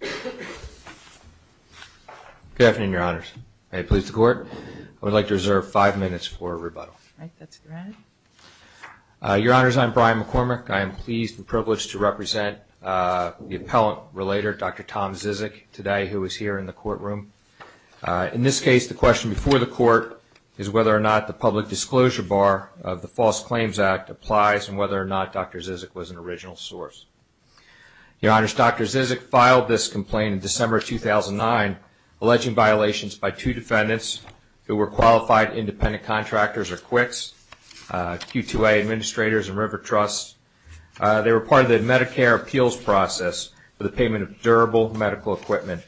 Good afternoon, your Honors. I am pleased to represent the Appellant Relator, Dr Tom Zizek, today, who is here in the courtroom. In this case the question before the court is whether or not the public disclosure bar of the false claims act applies, and whether or not Dr. Zizek was an original source. Your Honors, Dr. Zizek filed this complaint in December 2009, alleging violations by two defendants who were qualified independent contractors or QICs, Q2A Administrators and River Trusts. They were part of the Medicare appeals process for the payment of durable medical equipment.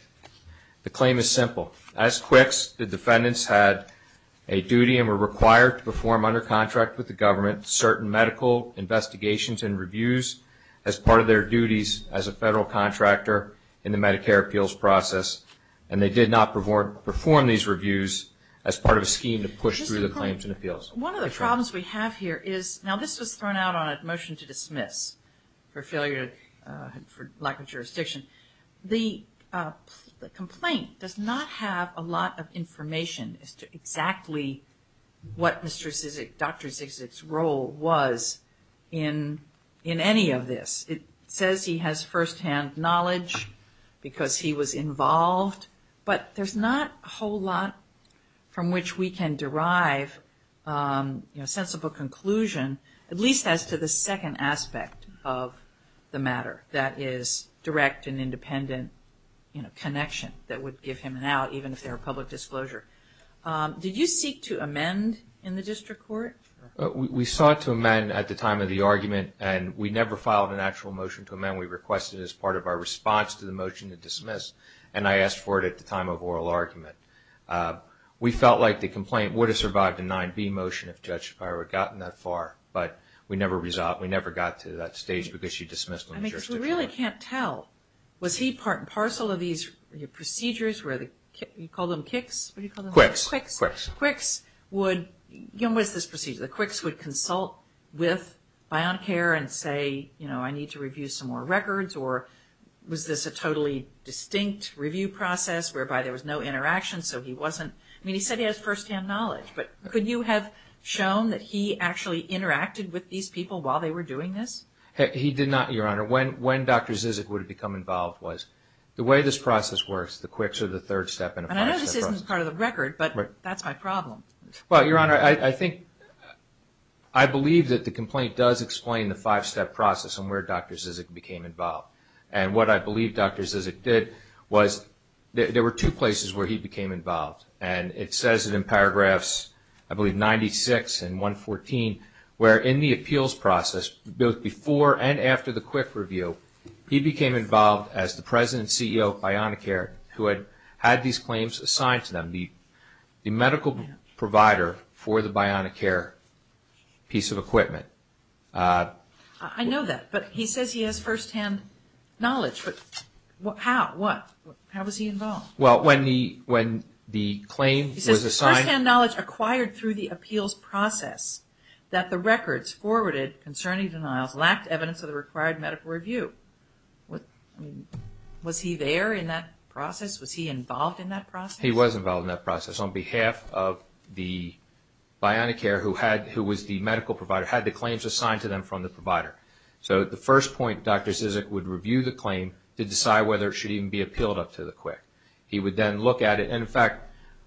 The claim is simple. As QICs, the defendants had a duty and were required to perform under contract with the government certain medical investigations and reviews as part of their duties as a federal contractor in the Medicare appeals process, and they did not perform these reviews as part of a scheme to push through the claims and appeals. One of the problems we have here is, now this was thrown out on a motion to dismiss for lack of jurisdiction. The complaint does not have a lot of information as to exactly what Dr. Zizek's role was in any of this. It says he has first-hand knowledge because he was involved, but there's not a whole lot from which we can derive a sensible conclusion, at least as to the second aspect of the matter that is direct and independent connection that would give him an out, even if there were public disclosure. Did you seek to amend in the district court? We sought to amend at the time of the argument, and we never filed an actual motion to amend. We requested it as part of our response to the motion to dismiss, and I asked for it at the time of oral argument. We felt like the complaint would have survived a 9B motion if Judge Shapiro had gotten that far, but we never got to that stage because she dismissed I mean, because we really can't tell. Was he part and parcel of these procedures where the, you call them KICs? What do you call them? QUICs. QUICs. QUICs would, you know, what is this procedure? The QUICs would consult with BioNCare and say, you know, I need to review some more records, or was this a totally distinct review process whereby there was no interaction, so he wasn't, I mean, he said he has first-hand knowledge, but could you have shown that he actually interacted with these people while they were doing this? He did not, Your Honor. When Dr. Zizek would have become involved was, the way this process works, the QUICs are the third step in a five-step process. And I know this isn't part of the record, but that's my problem. Well, Your Honor, I think, I believe that the complaint does explain the five-step process and where Dr. Zizek became involved, and what I believe Dr. Zizek did was, there were two places where he became involved, and it says it in paragraphs, I believe, 96 and 114, where in the appeals process, both before and after the QUIC review, he became involved as the President and CEO of BioNCare, who had had these claims assigned to them, the medical provider for the BioNCare piece of equipment. I know that, but he says he has first-hand knowledge, but how, what, how was he involved? Well, when the claim was assigned... Was he there in that process? Was he involved in that process? He was involved in that process on behalf of the BioNCare, who had, who was the medical provider, had the claims assigned to them from the provider. So at the first point, Dr. Zizek would review the claim to decide whether it should even be appealed up to the QUIC. He would then look at it, and in fact,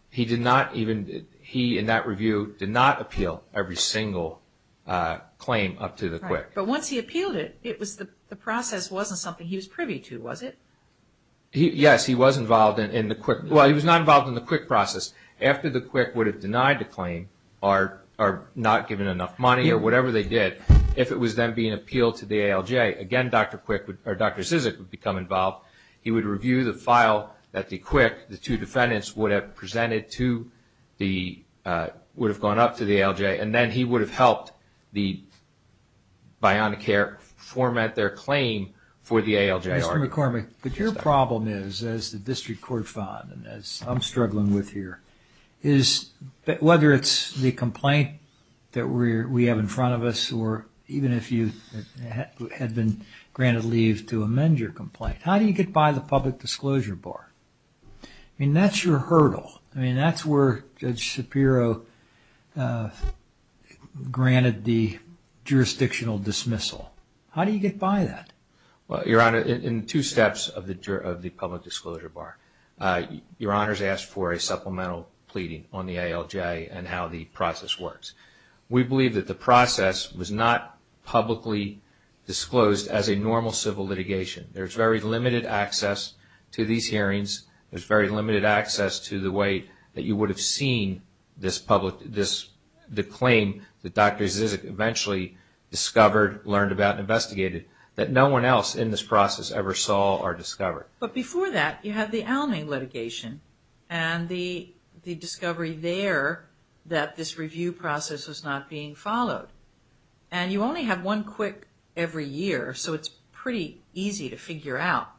he did not even, he, in that review, did not review a single claim up to the QUIC. But once he appealed it, it was, the process wasn't something he was privy to, was it? Yes, he was involved in the QUIC, well, he was not involved in the QUIC process. After the QUIC would have denied the claim, or not given enough money, or whatever they did, if it was then being appealed to the ALJ, again, Dr. Zizek would become involved. He would review the file that the QUIC, the two defendants, would have presented to the, would have gone up to the ALJ, and then he would have helped the BioNCare format their claim for the ALJ. Mr. McCormick, but your problem is, as the District Court found, and as I'm struggling with here, is, whether it's the complaint that we have in front of us, or even if you had been granted leave to amend your complaint, how do you get by the public disclosure bar? I mean, that's your hurdle. I mean, that's where Judge Shapiro granted the jurisdictional dismissal. How do you get by that? Well, Your Honor, in two steps of the public disclosure bar, Your Honor's asked for a supplemental pleading on the ALJ, and how the process works. We believe that the process was not publicly disclosed as a normal civil litigation. There's very limited access to these hearings. There's very limited access to the way that you would have seen this public, this, the claim that Dr. Zizek eventually discovered, learned about, and investigated, that no one else in this process ever saw or discovered. But before that, you have the Almay litigation, and the discovery there that this review process was not being followed. And you only have one quick every year, so it's pretty easy to figure out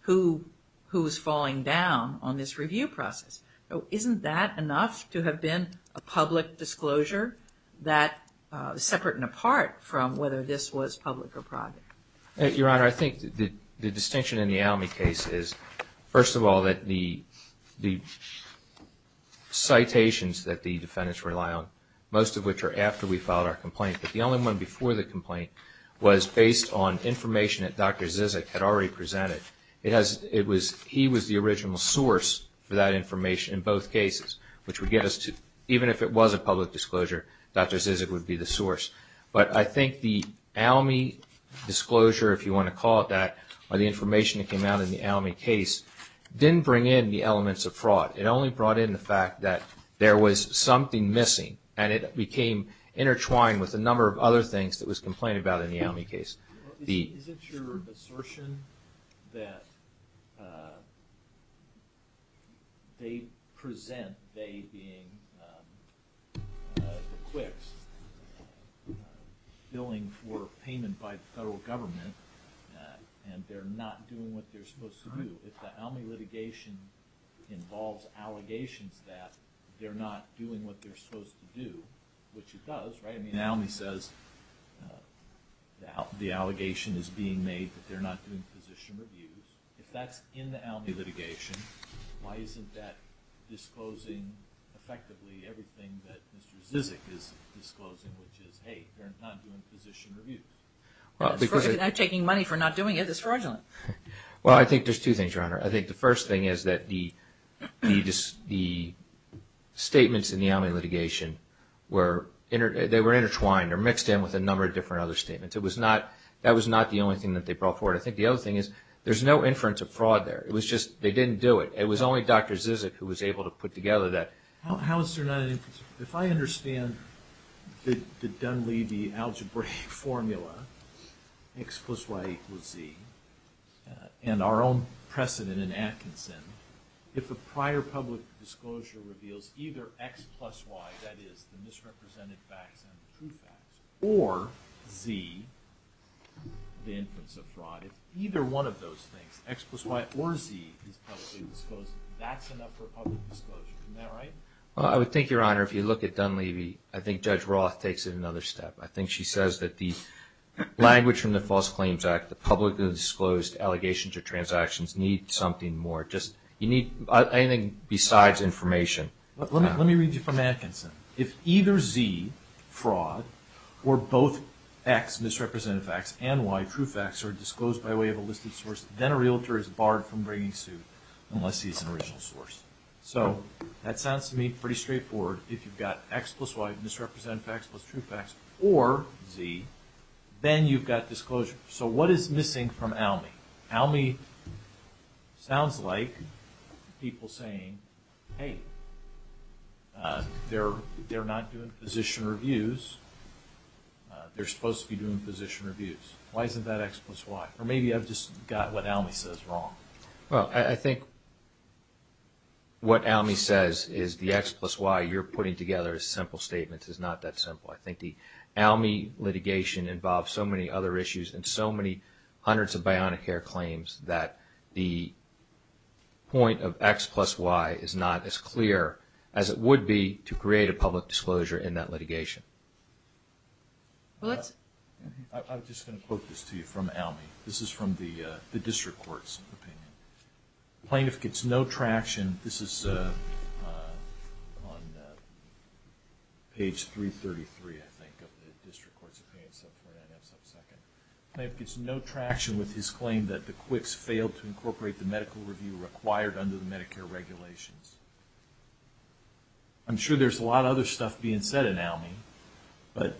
who, who's falling down on this review process. So, isn't that enough to have been a public disclosure that, separate and apart from whether this was public or private? Your Honor, I think the distinction in the Almay case is, first of all, that the, the defendants rely on, most of which are after we filed our complaint. But the only one before the complaint was based on information that Dr. Zizek had already presented. It has, it was, he was the original source for that information in both cases, which would get us to, even if it was a public disclosure, Dr. Zizek would be the source. But I think the Almay disclosure, if you want to call it that, or the information that came out in the Almay case, didn't bring in the elements of fraud. It only brought in the fact that there was something missing. And it became intertwined with a number of other things that was complained about in the Almay case. The... Isn't your assertion that they present they being quicks billing for payment by the federal government, and they're not doing what they're supposed to do. If the Almay litigation involves allegations that they're not doing what they're supposed to do, which it does, right? I mean, Almay says the allegation is being made that they're not doing position reviews. If that's in the Almay litigation, why isn't that disclosing effectively everything that Mr. Zizek is disclosing, which is, hey, they're not doing position reviews. Well, because... They're taking money for not doing it. It's fraudulent. Well, I think there's two things, Your Honor. I think the first thing is that the statements in the Almay litigation were... They were intertwined or mixed in with a number of different other statements. It was not... That was not the only thing that they brought forward. I think the other thing is there's no inference of fraud there. It was just... They didn't do it. It was only Dr. Zizek who was able to put together that. How is there not an inference? If I understand the Dunleavy algebraic formula, X plus Y equals Z, and our own precedent in Atkinson, if a prior public disclosure reveals either X plus Y, that is, the misrepresented facts and the true facts, or Z, the inference of fraud, if either one of those things, X plus Y or Z, is publicly disclosed, that's enough for public disclosure. Isn't that right? Well, I would think, Your Honor, if you look at Dunleavy, I think Judge Roth takes it another step. I think she says that the language from the False Claims Act, the publicly disclosed allegations or transactions, need something more. You need anything besides information. Let me read you from Atkinson. If either Z, fraud, or both X, misrepresented facts, and Y, true facts, are disclosed by way of a listed source, then a realtor is barred from bringing suit unless he's an original source. So that sounds to me pretty straightforward. If you've got X plus Y, misrepresented facts plus true facts, or Z, then you've got disclosure. So what is missing from ALMI? ALMI sounds like people saying, hey, they're not doing position reviews. They're supposed to be doing position reviews. Why isn't that X plus Y? Or maybe I've just got what ALMI says wrong. Well, I think what ALMI says is the X plus Y you're putting together as simple statements is not that simple. I think the ALMI litigation involves so many other issues and so many hundreds of bionic hair claims that the point of X plus Y is not as clear as it would be to create a public disclosure in that litigation. I'm just going to quote this to you from ALMI. This is from the district court's opinion. Plaintiff gets no traction. This is on page 333, I think, of the district court's opinion. Plaintiff gets no traction with his claim that the QUICS failed to incorporate the medical review required under the Medicare regulations. I'm sure there's a lot of other stuff being said in ALMI, but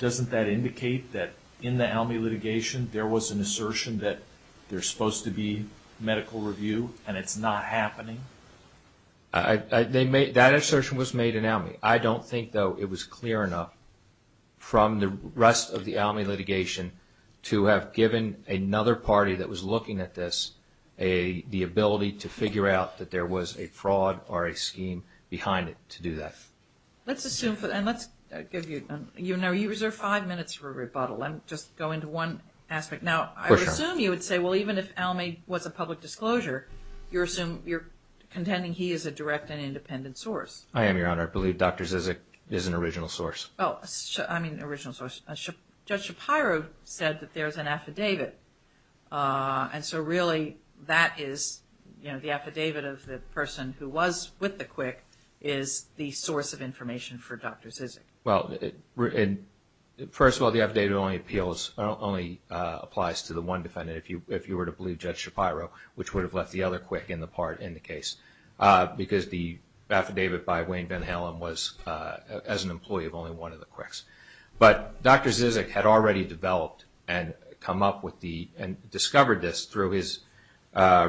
doesn't that indicate that in the ALMI litigation there was an assertion that there's supposed to be medical review and it's not happening? That assertion was made in ALMI. I don't think, though, it was clear enough from the rest of the ALMI litigation to have given another party that was looking at this the ability to figure out that there was a fraud or a scheme behind it to do that. Let's assume, and let's give you, you know, you reserve five minutes for rebuttal. I'm just going to one aspect. Now, I would assume you would say, well, even if ALMI was a public disclosure, you're contending he is a direct and independent source. I am, Your Honor. I believe Dr. Zizek is an original source. Oh, I mean, original source. Judge Shapiro said that there's an affidavit. And so really that is, you know, the affidavit of the person who was with the quick is the source of information for Dr. Zizek. Well, first of all, the affidavit only appeals, only applies to the one defendant, if you were to believe Judge Shapiro, which would have left the other quick in the part in the case, because the affidavit by Wayne Van Halen was as an employee of only one of the quicks. But Dr. Zizek had already developed and come up with the, and discovered this through his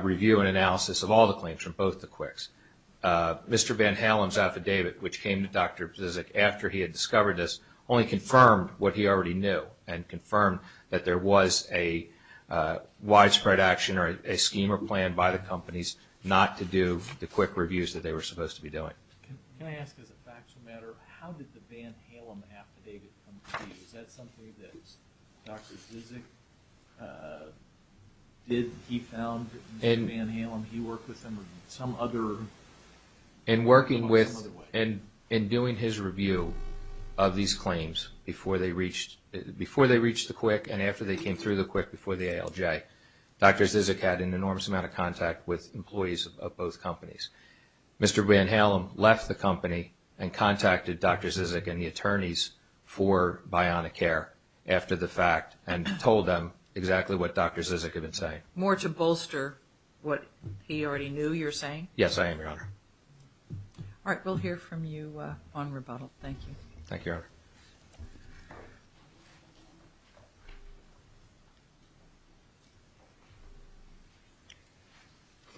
review and analysis of all the claims from both the quicks. Mr. Van Halen's affidavit, which came to Dr. Zizek after he had discovered this, only confirmed what he already knew and confirmed that there was a widespread action or a scheme or plan by the companies not to do the quick reviews that they were supposed to be doing. Can I ask as a factual matter, how did the Van Halen affidavit come to you? Is that something that Dr. Zizek did? He found Mr. Van Halen, he worked with him, or some other? In working with and doing his review of these claims before they reached the quick and after they came through the quick before the ALJ, Dr. Zizek had an enormous amount of contact with employees of both companies. Mr. Van Halen left the company and contacted Dr. Zizek and the attorneys for Bionicare after the fact and told them exactly what Dr. Zizek had been saying. More to bolster what he already knew you were saying? Yes, I am, Your Honor. All right, we'll hear from you on rebuttal. Thank you. Thank you, Your Honor. Thank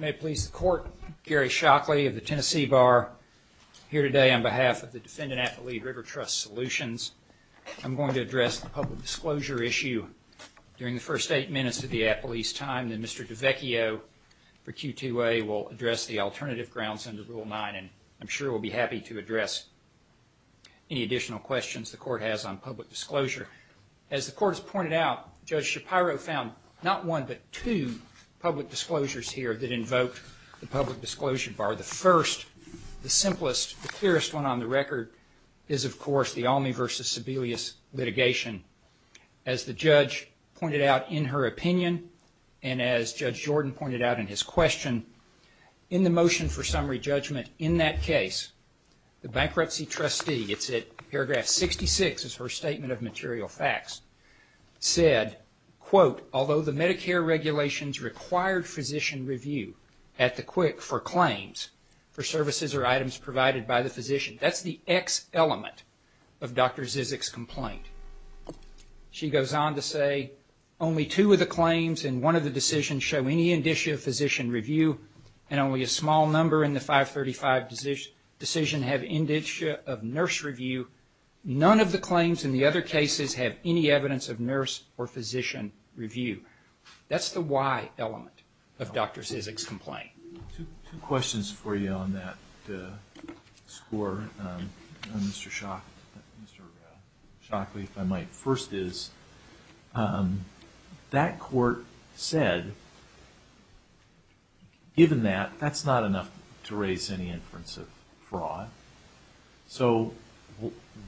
you. May it please the Court, Gary Shockley of the Tennessee Bar, here today on behalf of the Defendant Appellee River Trust Solutions. I'm going to address the public disclosure issue. During the first eight minutes of the appellee's time, Mr. DeVecchio for Q2A will address the alternative grounds under Rule 9 and I'm sure will be happy to address any additional questions the Court has on public disclosure. As the Court has pointed out, Judge Shapiro found not one but two public disclosures here that invoked the public disclosure bar. The first, the simplest, the clearest one on the record, is of course the Almy v. Sebelius litigation. As the Judge pointed out in her opinion and as Judge Jordan pointed out in his question, in the motion for summary judgment in that case, the bankruptcy trustee, it's at paragraph 66, is her statement of material facts, said, quote, That's the X element of Dr. Zizek's complaint. She goes on to say, None of the claims in the other cases have any evidence of nurse or physician review. That's the Y element of Dr. Zizek's complaint. Two questions for you on that score. Mr. Shockley, if I might first is, that Court said, given that, that's not enough to raise any inference of fraud, so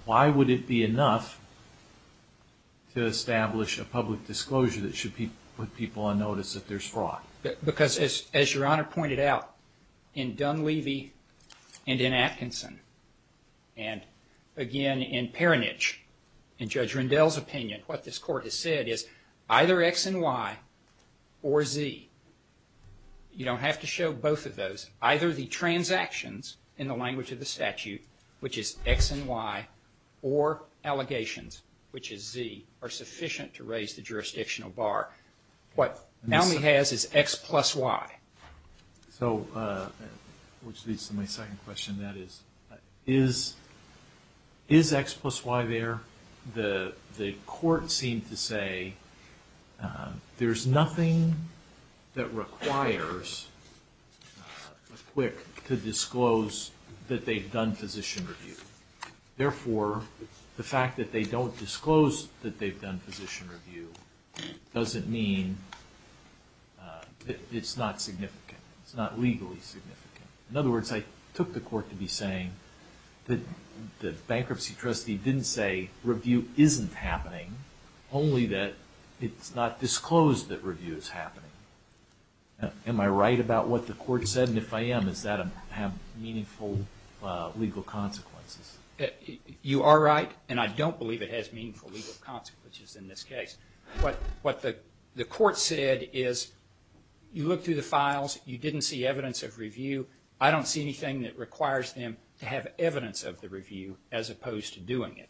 why would it be enough to establish a public disclosure that should put people on notice that there's fraud? Because as Your Honor pointed out, in Dunleavy and in Atkinson, and again in Peronich, in Judge Rendell's opinion, what this Court has said is, either X and Y or Z. You don't have to show both of those. Either the transactions, in the language of the statute, which is X and Y, or allegations, which is Z, are sufficient to raise the jurisdictional bar. What Dunleavy has is X plus Y. So, which leads to my second question, that is, is X plus Y there? Your Honor, the Court seemed to say there's nothing that requires a quick to disclose that they've done physician review. Therefore, the fact that they don't disclose that they've done physician review doesn't mean it's not significant. It's not legally significant. In other words, I took the Court to be saying that the bankruptcy trustee didn't say review isn't happening, only that it's not disclosed that review is happening. Am I right about what the Court said? And if I am, does that have meaningful legal consequences? You are right, and I don't believe it has meaningful legal consequences in this case. What the Court said is, you look through the files, you didn't see evidence of review, I don't see anything that requires them to have evidence of the review as opposed to doing it.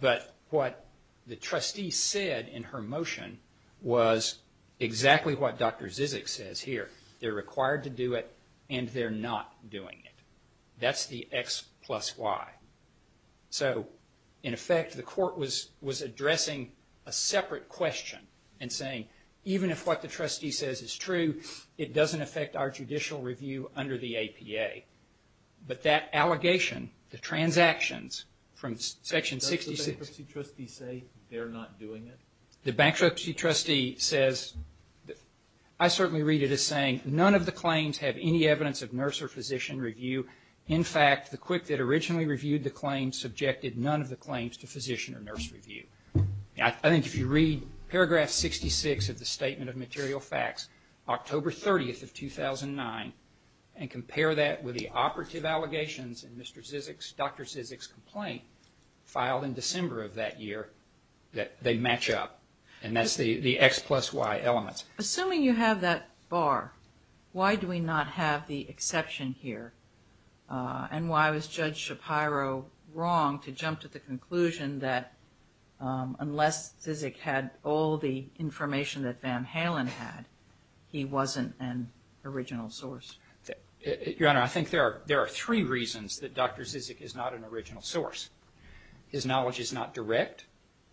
But what the trustee said in her motion was exactly what Dr. Zizek says here. They're required to do it, and they're not doing it. That's the X plus Y. So, in effect, the Court was addressing a separate question and saying, even if what the trustee says is true, it doesn't affect our judicial review under the APA. But that allegation, the transactions, from section 66... Does the bankruptcy trustee say they're not doing it? The bankruptcy trustee says, I certainly read it as saying, none of the claims have any evidence of nurse or physician review. In fact, the CWC that originally reviewed the claims subjected none of the claims to physician or nurse review. I think if you read paragraph 66 of the Statement of Material Facts, October 30th of 2009, and compare that with the operative allegations in Dr. Zizek's complaint, filed in December of that year, they match up. And that's the X plus Y elements. Assuming you have that bar, why do we not have the exception here? And why was Judge Shapiro wrong to jump to the conclusion that unless Zizek had all the information that Van Halen had, he wasn't an original source? Your Honor, I think there are three reasons that Dr. Zizek is not an original source. His knowledge is not direct,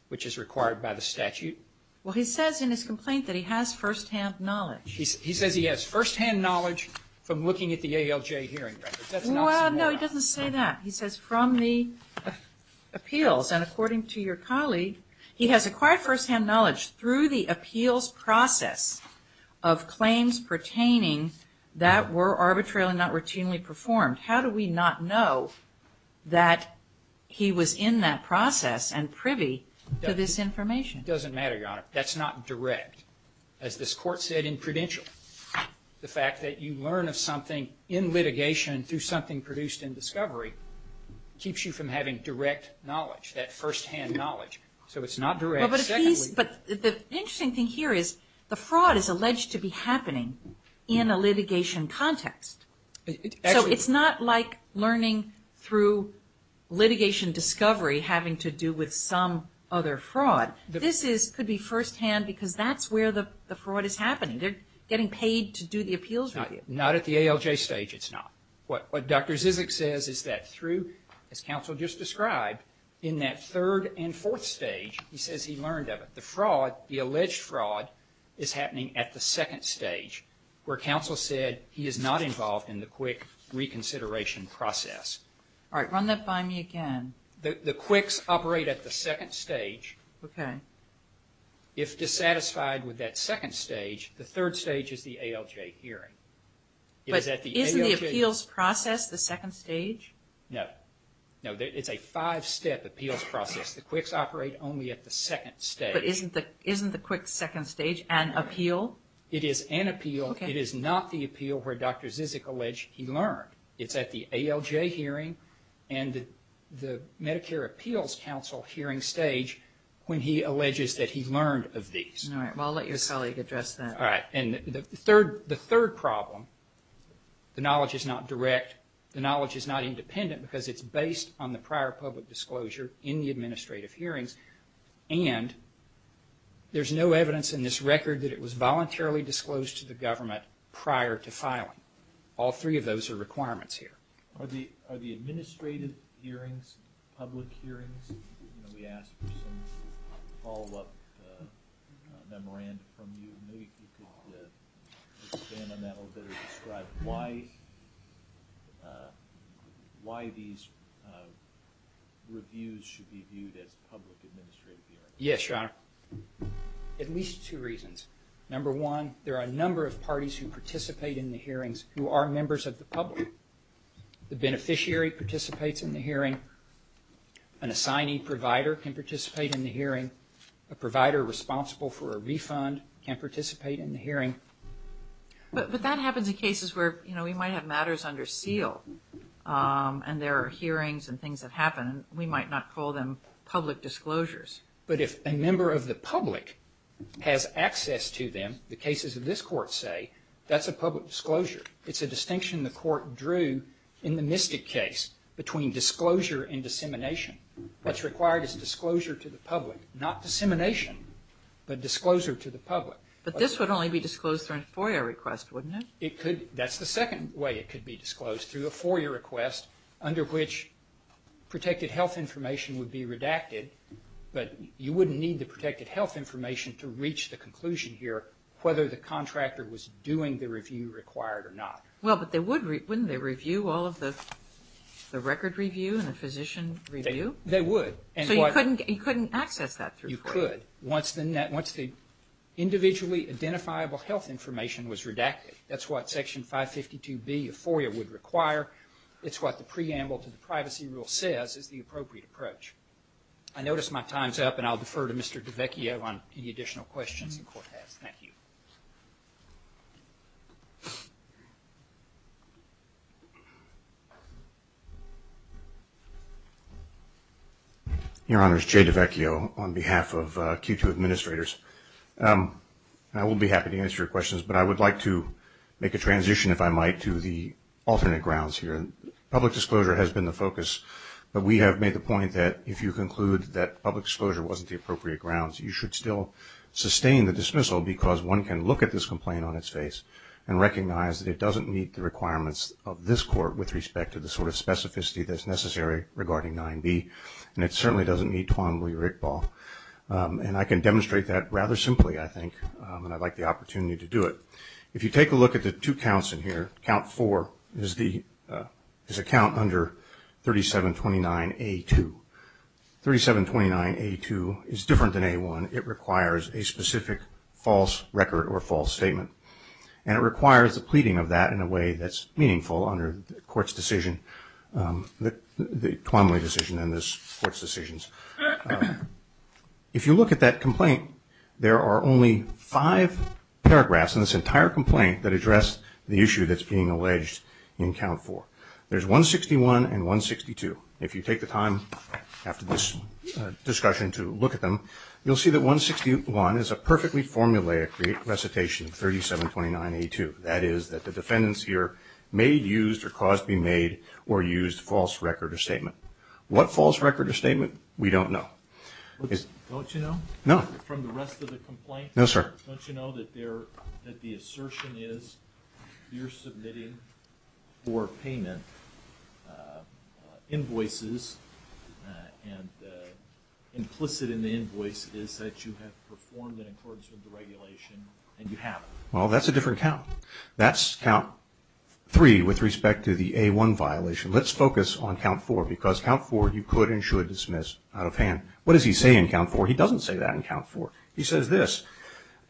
which is required by the statute. Well, he says in his complaint that he has first-hand knowledge. He says he has first-hand knowledge from looking at the ALJ hearing records. Well, no, he doesn't say that. He says from the appeals, and according to your colleague, he has acquired first-hand knowledge through the appeals process of claims pertaining that were arbitrarily not routinely performed. How do we not know that he was in that process and privy to this information? It doesn't matter, Your Honor. That's not direct. As this Court said in Prudential, the fact that you learn of something in litigation through something produced in discovery keeps you from having direct knowledge, that first-hand knowledge. So it's not direct. The interesting thing here is the fraud is alleged to be happening in a litigation context. So it's not like learning through litigation discovery having to do with some other fraud. This could be first-hand because that's where the fraud is happening. They're getting paid to do the appeals review. Not at the ALJ stage, it's not. What Dr. Zizek says is that through, as counsel just described, in that third and fourth stage, he says he learned of it. The fraud, the alleged fraud, is happening at the second stage where counsel said he is not involved in the QUIC reconsideration process. All right, run that by me again. The QUICs operate at the second stage. Okay. If dissatisfied with that second stage, the third stage is the ALJ hearing. But isn't the appeals process the second stage? No. No, it's a five-step appeals process. The QUICs operate only at the second stage. But isn't the QUIC second stage an appeal? It is an appeal. Okay. It is not the appeal where Dr. Zizek alleged he learned. It's at the ALJ hearing and the Medicare Appeals Council hearing stage when he alleges that he learned of these. All right, well, I'll let your colleague address that. All right, and the third problem, the knowledge is not direct, the knowledge is not independent because it's based on the prior public disclosure in the administrative hearings, and there's no evidence in this record that it was voluntarily disclosed to the government prior to filing. All three of those are requirements here. Are the administrative hearings public hearings? We asked for some follow-up memorandum from you. Maybe you could expand on that a little bit and describe why these reviews should be viewed as public administrative hearings. Yes, Your Honor. At least two reasons. Number one, there are a number of parties who participate in the hearings who are members of the public. The beneficiary participates in the hearing. An assignee provider can participate in the hearing. A provider responsible for a refund can participate in the hearing. But that happens in cases where, you know, we might have matters under seal and there are hearings and things that happen. We might not call them public disclosures. But if a member of the public has access to them, the cases of this Court say, that's a public disclosure. It's a distinction the Court drew in the Mystic case between disclosure and dissemination. What's required is disclosure to the public, not dissemination, but disclosure to the public. But this would only be disclosed through a FOIA request, wouldn't it? That's the second way it could be disclosed, through a FOIA request under which protected health information would be redacted. But you wouldn't need the protected health information to reach the conclusion here whether the contractor was doing the review required or not. Well, but wouldn't they review all of the record review and the physician review? They would. So you couldn't access that through FOIA? You could. Once the individually identifiable health information was redacted. That's what Section 552B of FOIA would require. It's what the preamble to the Privacy Rule says is the appropriate approach. I notice my time's up, and I'll defer to Mr. DiVecchio on any additional questions the Court has. Thank you. Your Honor, it's Jay DiVecchio on behalf of Q2 Administrators. I will be happy to answer your questions, but I would like to make a transition, if I might, to the alternate grounds here. Public disclosure has been the focus, but we have made the point that if you conclude that public disclosure you should still sustain the dismissal because one can lose the discretion to make a public disclosure. I would like to take a look at this complaint on its face and recognize that it doesn't meet the requirements of this Court with respect to the sort of specificity that's necessary regarding 9B, and it certainly doesn't meet Twan-Lee-Rickball. And I can demonstrate that rather simply, I think, and I'd like the opportunity to do it. If you take a look at the two counts in here, Count 4 is a count under 3729A2. 3729A2 is different than A1. It requires a specific false record or false statement, and it requires the pleading of that in a way that's meaningful under the court's decision, the Twan-Lee decision and this Court's decisions. If you look at that complaint, there are only five paragraphs in this entire complaint that address the issue that's being alleged in Count 4. There's 161 and 162. If you take the time after this discussion to look at them, you'll see that 161 is a perfectly formulaic recitation of 3729A2. That is that the defendants here may have used or caused to be made or used false record or statement. What false record or statement? We don't know. Don't you know? No. From the rest of the complaint? No, sir. Don't you know that the assertion is you're submitting for payment invoices and implicit in the invoice is that you have performed in accordance with the regulation and you haven't? Well, that's a different count. That's Count 3 with respect to the A1 violation. Let's focus on Count 4, because Count 4 you could and should dismiss out of hand. What does he say in Count 4? He doesn't say that in Count 4. He says this,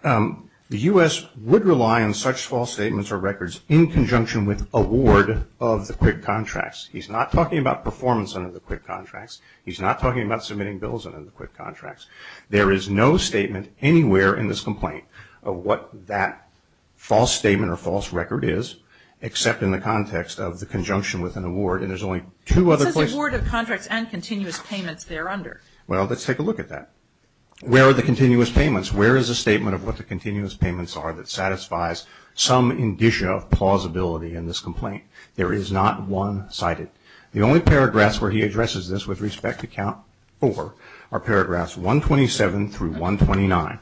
the U.S. would rely on such false statements or records in conjunction with award of the quick contracts. He's not talking about performance under the quick contracts. He's not talking about submitting bills under the quick contracts. There is no statement anywhere in this complaint of what that false statement or false record is, except in the context of the conjunction with an award, and there's only two other places. It says award of contracts and continuous payments there under. Well, let's take a look at that. Where are the continuous payments? Where is the statement of what the continuous payments are that satisfies some indicia of plausibility in this complaint? There is not one cited. The only paragraphs where he addresses this with respect to Count 4 are paragraphs 127 through 129,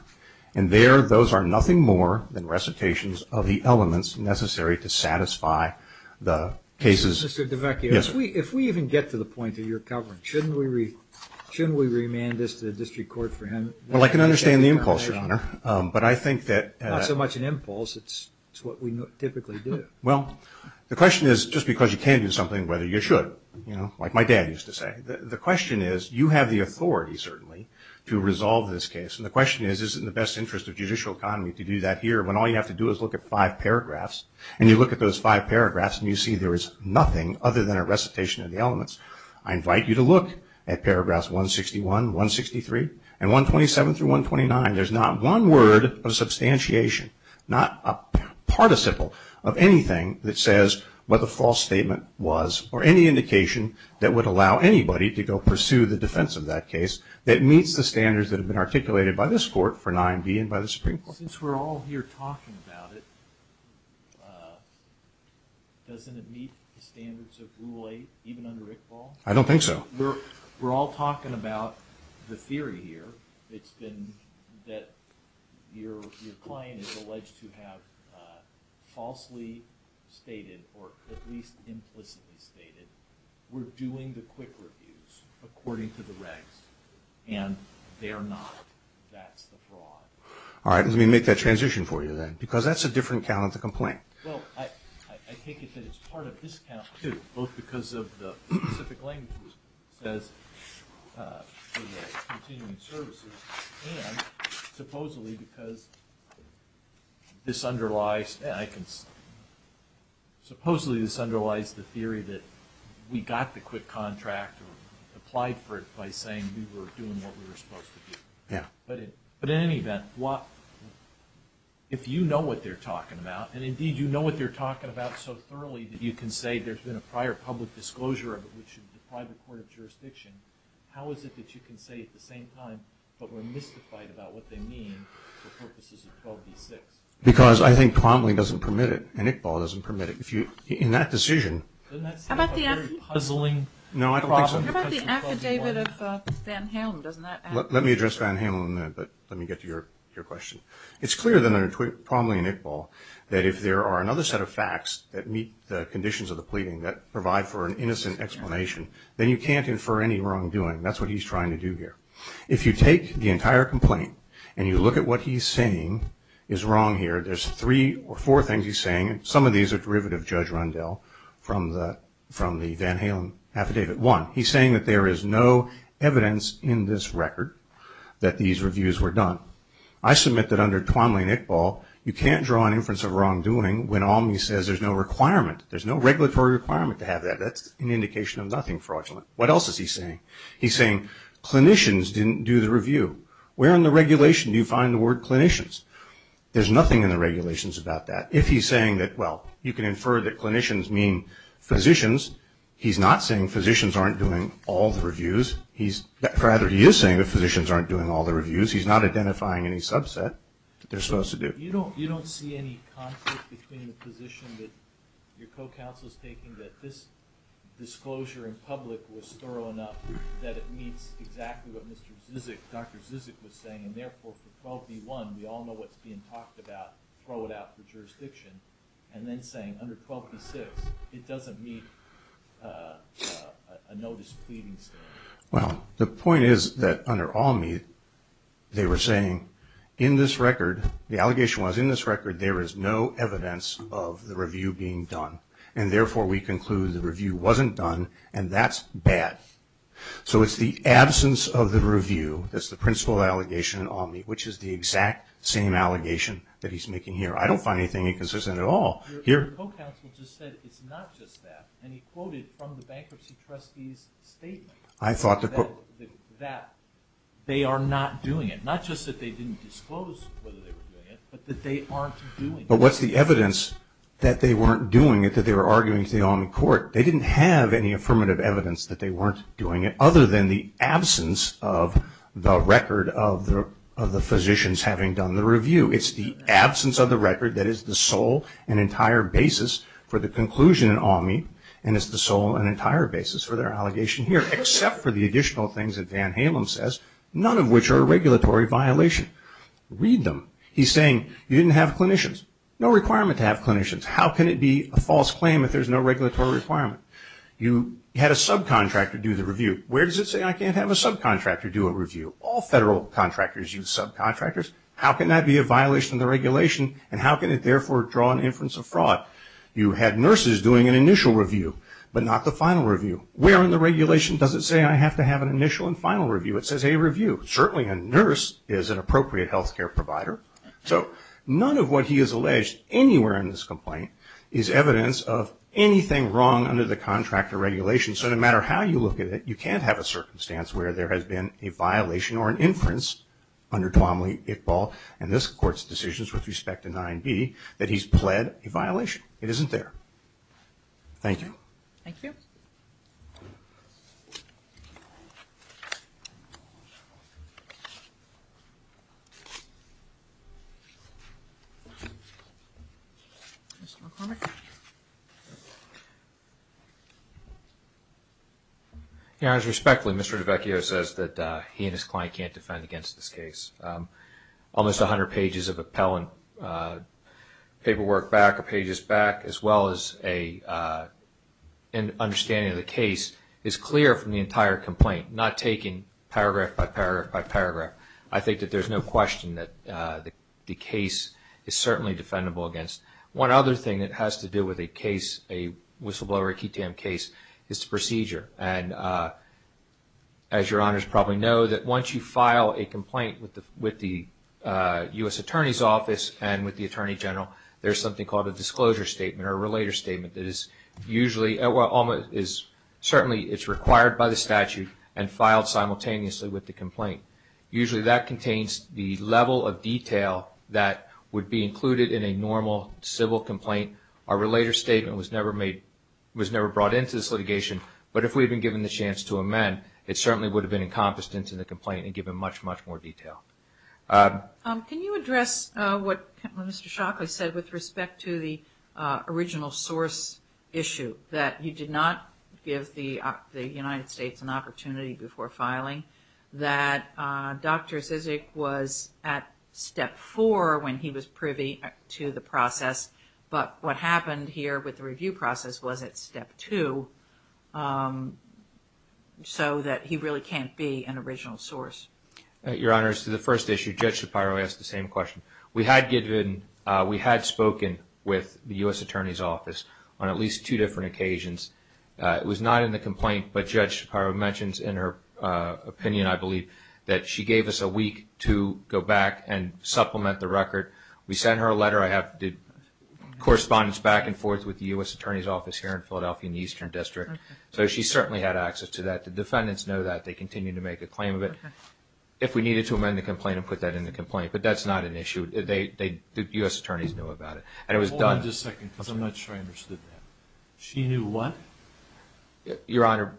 and there those are nothing more than recitations of the elements necessary to satisfy the cases. Mr. DeVecchio, if we even get to the point that you're covering, shouldn't we remand this to the district court for him? Well, I can understand the impulse, Your Honor, but I think that Not so much an impulse, it's what we typically do. Well, the question is, just because you can do something, whether you should, you know, like my dad used to say. The question is, you have the authority, certainly, to resolve this case, and the question is, is it in the best interest of judicial economy to do that here when all you have to do is look at five paragraphs, and you look at those five paragraphs and you see there is nothing other than a recitation of the elements. I invite you to look at paragraphs 161, 163, and 127 through 129. There's not one word of substantiation, not a participle of anything that says what the false statement was or any indication that would allow anybody to go pursue the defense of that case that meets the standards that have been articulated by this court for 9B and by the Supreme Court. Since we're all here talking about it, doesn't it meet the standards of Rule 8, even under Iqbal? I don't think so. We're all talking about the theory here. It's been that your client is alleged to have falsely stated or at least implicitly stated, we're doing the quick reviews according to the regs, and they're not. That's the fraud. All right. Let me make that transition for you, then, because that's a different account of the complaint. Well, I take it that it's part of this account, too, both because of the specific language it says for the continuing services and supposedly because this underlies the theory that we got the quick contract or applied for it by saying we were doing what we were supposed to do. Yeah. But in any event, if you know what they're talking about, and indeed you know what they're talking about so thoroughly that you can say there's been a prior public disclosure of it, which is the private court of jurisdiction, how is it that you can say at the same time, but were mystified about what they mean for purposes of 12D6? Because I think Promley doesn't permit it, and Iqbal doesn't permit it. In that decision, Doesn't that seem like a very puzzling problem? No, I don't think so. How about the affidavit of Van Halen? Let me address Van Halen in a minute, but let me get to your question. It's clear that under Promley and Iqbal that if there are another set of facts that meet the conditions of the pleading that provide for an innocent explanation, then you can't infer any wrongdoing. That's what he's trying to do here. If you take the entire complaint and you look at what he's saying is wrong here, there's three or four things he's saying. Some of these are derivative, Judge Rundell, from the Van Halen affidavit. One, he's saying that there is no evidence in this record that these reviews were done. I submit that under Promley and Iqbal you can't draw an inference of wrongdoing when Almy says there's no requirement, there's no regulatory requirement to have that. That's an indication of nothing fraudulent. What else is he saying? He's saying clinicians didn't do the review. Where in the regulation do you find the word clinicians? There's nothing in the regulations about that. If he's saying that, well, you can infer that clinicians mean physicians, he's not saying physicians aren't doing all the reviews. Rather, he is saying that physicians aren't doing all the reviews. He's not identifying any subset that they're supposed to do. But you don't see any conflict between the position that your co-counsel is taking, that this disclosure in public was thorough enough that it meets exactly what Dr. Zizek was saying, and therefore for 12b-1 we all know what's being talked about, throw it out for jurisdiction, and then saying under 12b-6 it doesn't meet a notice pleading statement. Well, the point is that under Almy they were saying in this record, the allegation was in this record, there is no evidence of the review being done, and therefore we conclude the review wasn't done, and that's bad. So it's the absence of the review that's the principal allegation in Almy, which is the exact same allegation that he's making here. I don't find anything inconsistent at all. Your co-counsel just said it's not just that, and he quoted from the bankruptcy trustee's statement that they are not doing it. Not just that they didn't disclose whether they were doing it, but that they aren't doing it. But what's the evidence that they weren't doing it, that they were arguing to the Almy court? They didn't have any affirmative evidence that they weren't doing it, other than the absence of the record of the physicians having done the review. It's the absence of the record that is the sole and entire basis for the conclusion in Almy, and it's the sole and entire basis for their allegation here, except for the additional things that Van Halen says, none of which are a regulatory violation. Read them. He's saying you didn't have clinicians. No requirement to have clinicians. How can it be a false claim if there's no regulatory requirement? You had a subcontractor do the review. Where does it say I can't have a subcontractor do a review? All federal contractors use subcontractors. How can that be a violation of the regulation, and how can it therefore draw an inference of fraud? You had nurses doing an initial review, but not the final review. Where in the regulation does it say I have to have an initial and final review? It says a review. Certainly a nurse is an appropriate health care provider. So none of what he has alleged anywhere in this complaint is evidence of anything wrong under the contractor regulation. So no matter how you look at it, you can't have a circumstance where there has been a violation or an inference under Twomley, Iqbal, and this Court's decisions with respect to 9b that he's pled a violation. It isn't there. Thank you. Thank you. Mr. McCormick. As respectfully, Mr. DeVecchio says that he and his client can't defend against this case. Almost 100 pages of appellant paperwork back, as well as an understanding of the case, is clear from the entire complaint, not taking paragraph by paragraph by paragraph. I think that there's no question that the case is certainly defendable against. One other thing that has to do with a case, a whistleblower or a key to him case, is the procedure. And as your honors probably know, there's something called a disclosure statement or a relator statement that is usually, certainly it's required by the statute and filed simultaneously with the complaint. Usually that contains the level of detail that would be included in a normal civil complaint. A relator statement was never brought into this litigation, but if we had been given the chance to amend, it certainly would have been encompassed into the complaint and given much, much more detail. Can you address what Mr. Shockley said with respect to the original source issue, that you did not give the United States an opportunity before filing, that Dr. Zizek was at step four when he was privy to the process, but what happened here with the review process was at step two, so that he really can't be an original source? Your honors, to the first issue, Judge Shapiro asked the same question. We had spoken with the U.S. Attorney's Office on at least two different occasions. It was not in the complaint, but Judge Shapiro mentions in her opinion, I believe, that she gave us a week to go back and supplement the record. We sent her a letter. I have correspondence back and forth with the U.S. Attorney's Office here in Philadelphia in the Eastern District, so she certainly had access to that. The defendants know that. They continue to make a claim of it. If we needed to amend the complaint and put that in the complaint, but that's not an issue. The U.S. Attorneys know about it. Hold on just a second, because I'm not sure I understood that. She knew what? Your honor,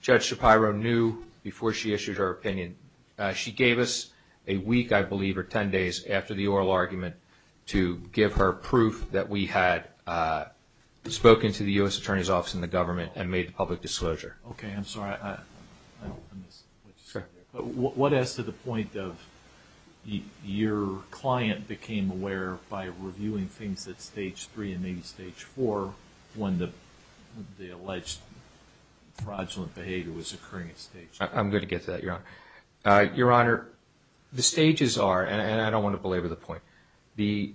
Judge Shapiro knew before she issued her opinion. She gave us a week, I believe, or 10 days after the oral argument to give her proof that we had spoken to the U.S. Attorney's Office and the government and made a public disclosure. Okay, I'm sorry. What as to the point of your client became aware by reviewing things at Stage 3 and maybe Stage 4 when the alleged fraudulent behavior was occurring at Stage 3? I'm going to get to that, your honor. Your honor, the stages are, and I don't want to belabor the point, the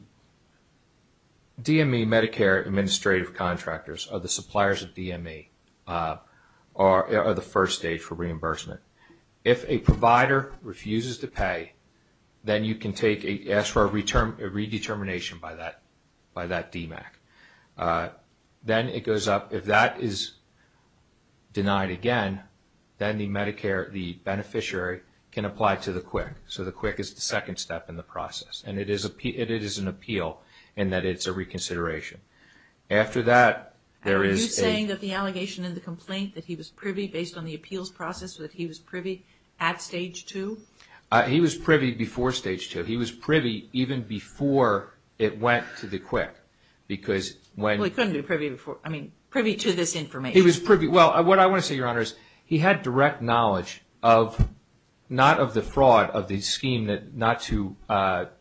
DME, Medicare Administrative Contractors, are the suppliers of DME, are the first stage for reimbursement. If a provider refuses to pay, then you can ask for a redetermination by that DMACC. Then it goes up. If that is denied again, then the Medicare, the beneficiary can apply to the QIC. So the QIC is the second step in the process. And it is an appeal in that it's a reconsideration. After that, there is a... Are you saying that the allegation in the complaint that he was privy based on the appeals process, that he was privy at Stage 2? He was privy before Stage 2. He was privy even before it went to the QIC because when... Well, he couldn't be privy before. I mean, privy to this information. He was privy. Well, what I want to say, your honor, is he had direct knowledge of, not of the fraud of the scheme not to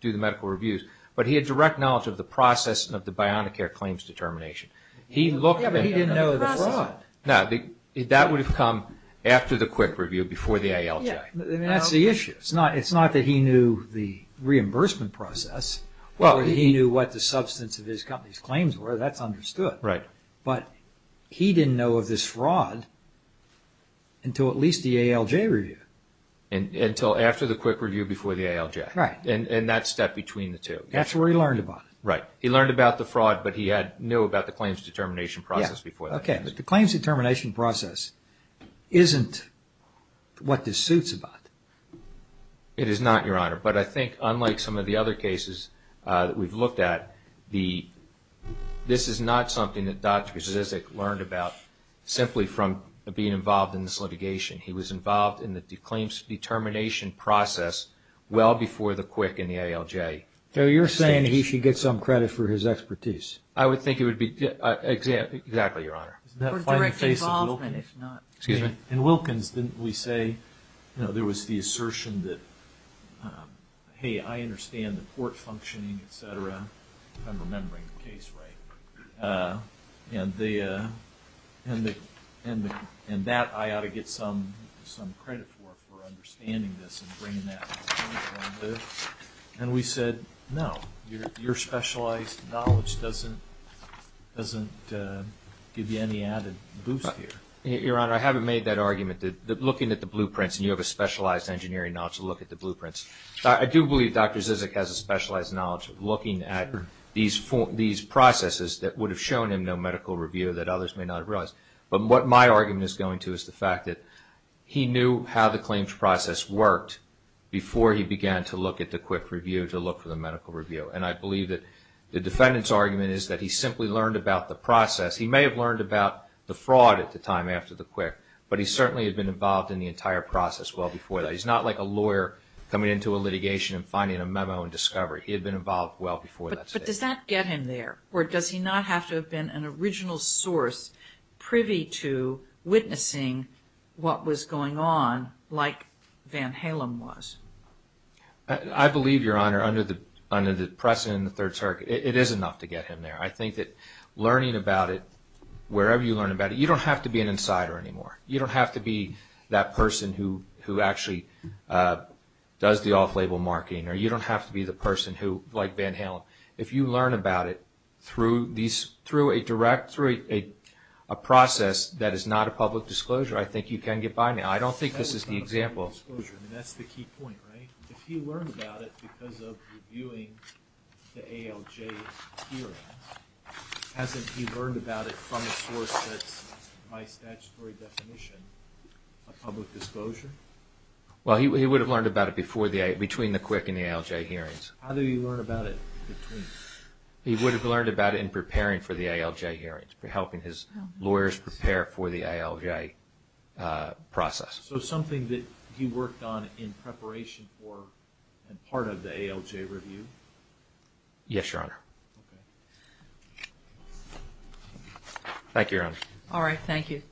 do the medical reviews, but he had direct knowledge of the process and of the Bionicare claims determination. He looked at... But he didn't know the fraud. No, that would have come after the QIC review, before the ALJ. That's the issue. It's not that he knew the reimbursement process. He knew what the substance of his company's claims were. That's understood. Right. But he didn't know of this fraud until at least the ALJ review. Until after the QIC review before the ALJ. Right. And that step between the two. That's where he learned about it. Right. He learned about the fraud, but he knew about the claims determination process before that. Yeah. Okay. But the claims determination process isn't what this suits about. It is not, your honor. But I think, unlike some of the other cases that we've looked at, this is not something that Dr. Zizek learned about simply from being involved in this litigation. He was involved in the claims determination process well before the QIC and the ALJ. So you're saying he should get some credit for his expertise. I would think he would be. Exactly, your honor. For direct involvement, if not. Excuse me? In Wilkins, didn't we say, you know, there was the assertion that, hey, I understand the court functioning, et cetera. If I'm remembering the case right. And that I ought to get some credit for, for understanding this and bringing that to the table. And we said, no. Your specialized knowledge doesn't give you any added boost here. Your honor, I haven't made that argument that looking at the blueprints, and you have a specialized engineering knowledge to look at the blueprints. I do believe Dr. Zizek has a specialized knowledge of looking at these processes that would have shown him no medical review that others may not have realized. But what my argument is going to is the fact that he knew how the claims process worked before he began to look at the QIC review to look for the medical review. And I believe that the defendant's argument is that he simply learned about the process. He may have learned about the fraud at the time after the QIC, but he certainly had been involved in the entire process well before that. He's not like a lawyer coming into a litigation and finding a memo and discovery. He had been involved well before that. But does that get him there? Or does he not have to have been an original source privy to witnessing what was going on, like Van Halen was? I believe, Your Honor, under the precedent in the Third Circuit, it is enough to get him there. I think that learning about it, wherever you learn about it, you don't have to be an insider anymore. You don't have to be that person who actually does the off-label marketing, or you don't have to be the person who, like Van Halen. If you learn about it through a process that is not a public disclosure, I think you can get by now. I don't think this is the example. That's the key point, right? If he learned about it because of reviewing the ALJ hearings, hasn't he learned about it from a source that's, by statutory definition, a public disclosure? Well, he would have learned about it between the QUIC and the ALJ hearings. How do you learn about it between? He would have learned about it in preparing for the ALJ hearings, helping his lawyers prepare for the ALJ process. So something that he worked on in preparation for and part of the ALJ review? Yes, Your Honor. Thank you, Your Honor. All right, thank you.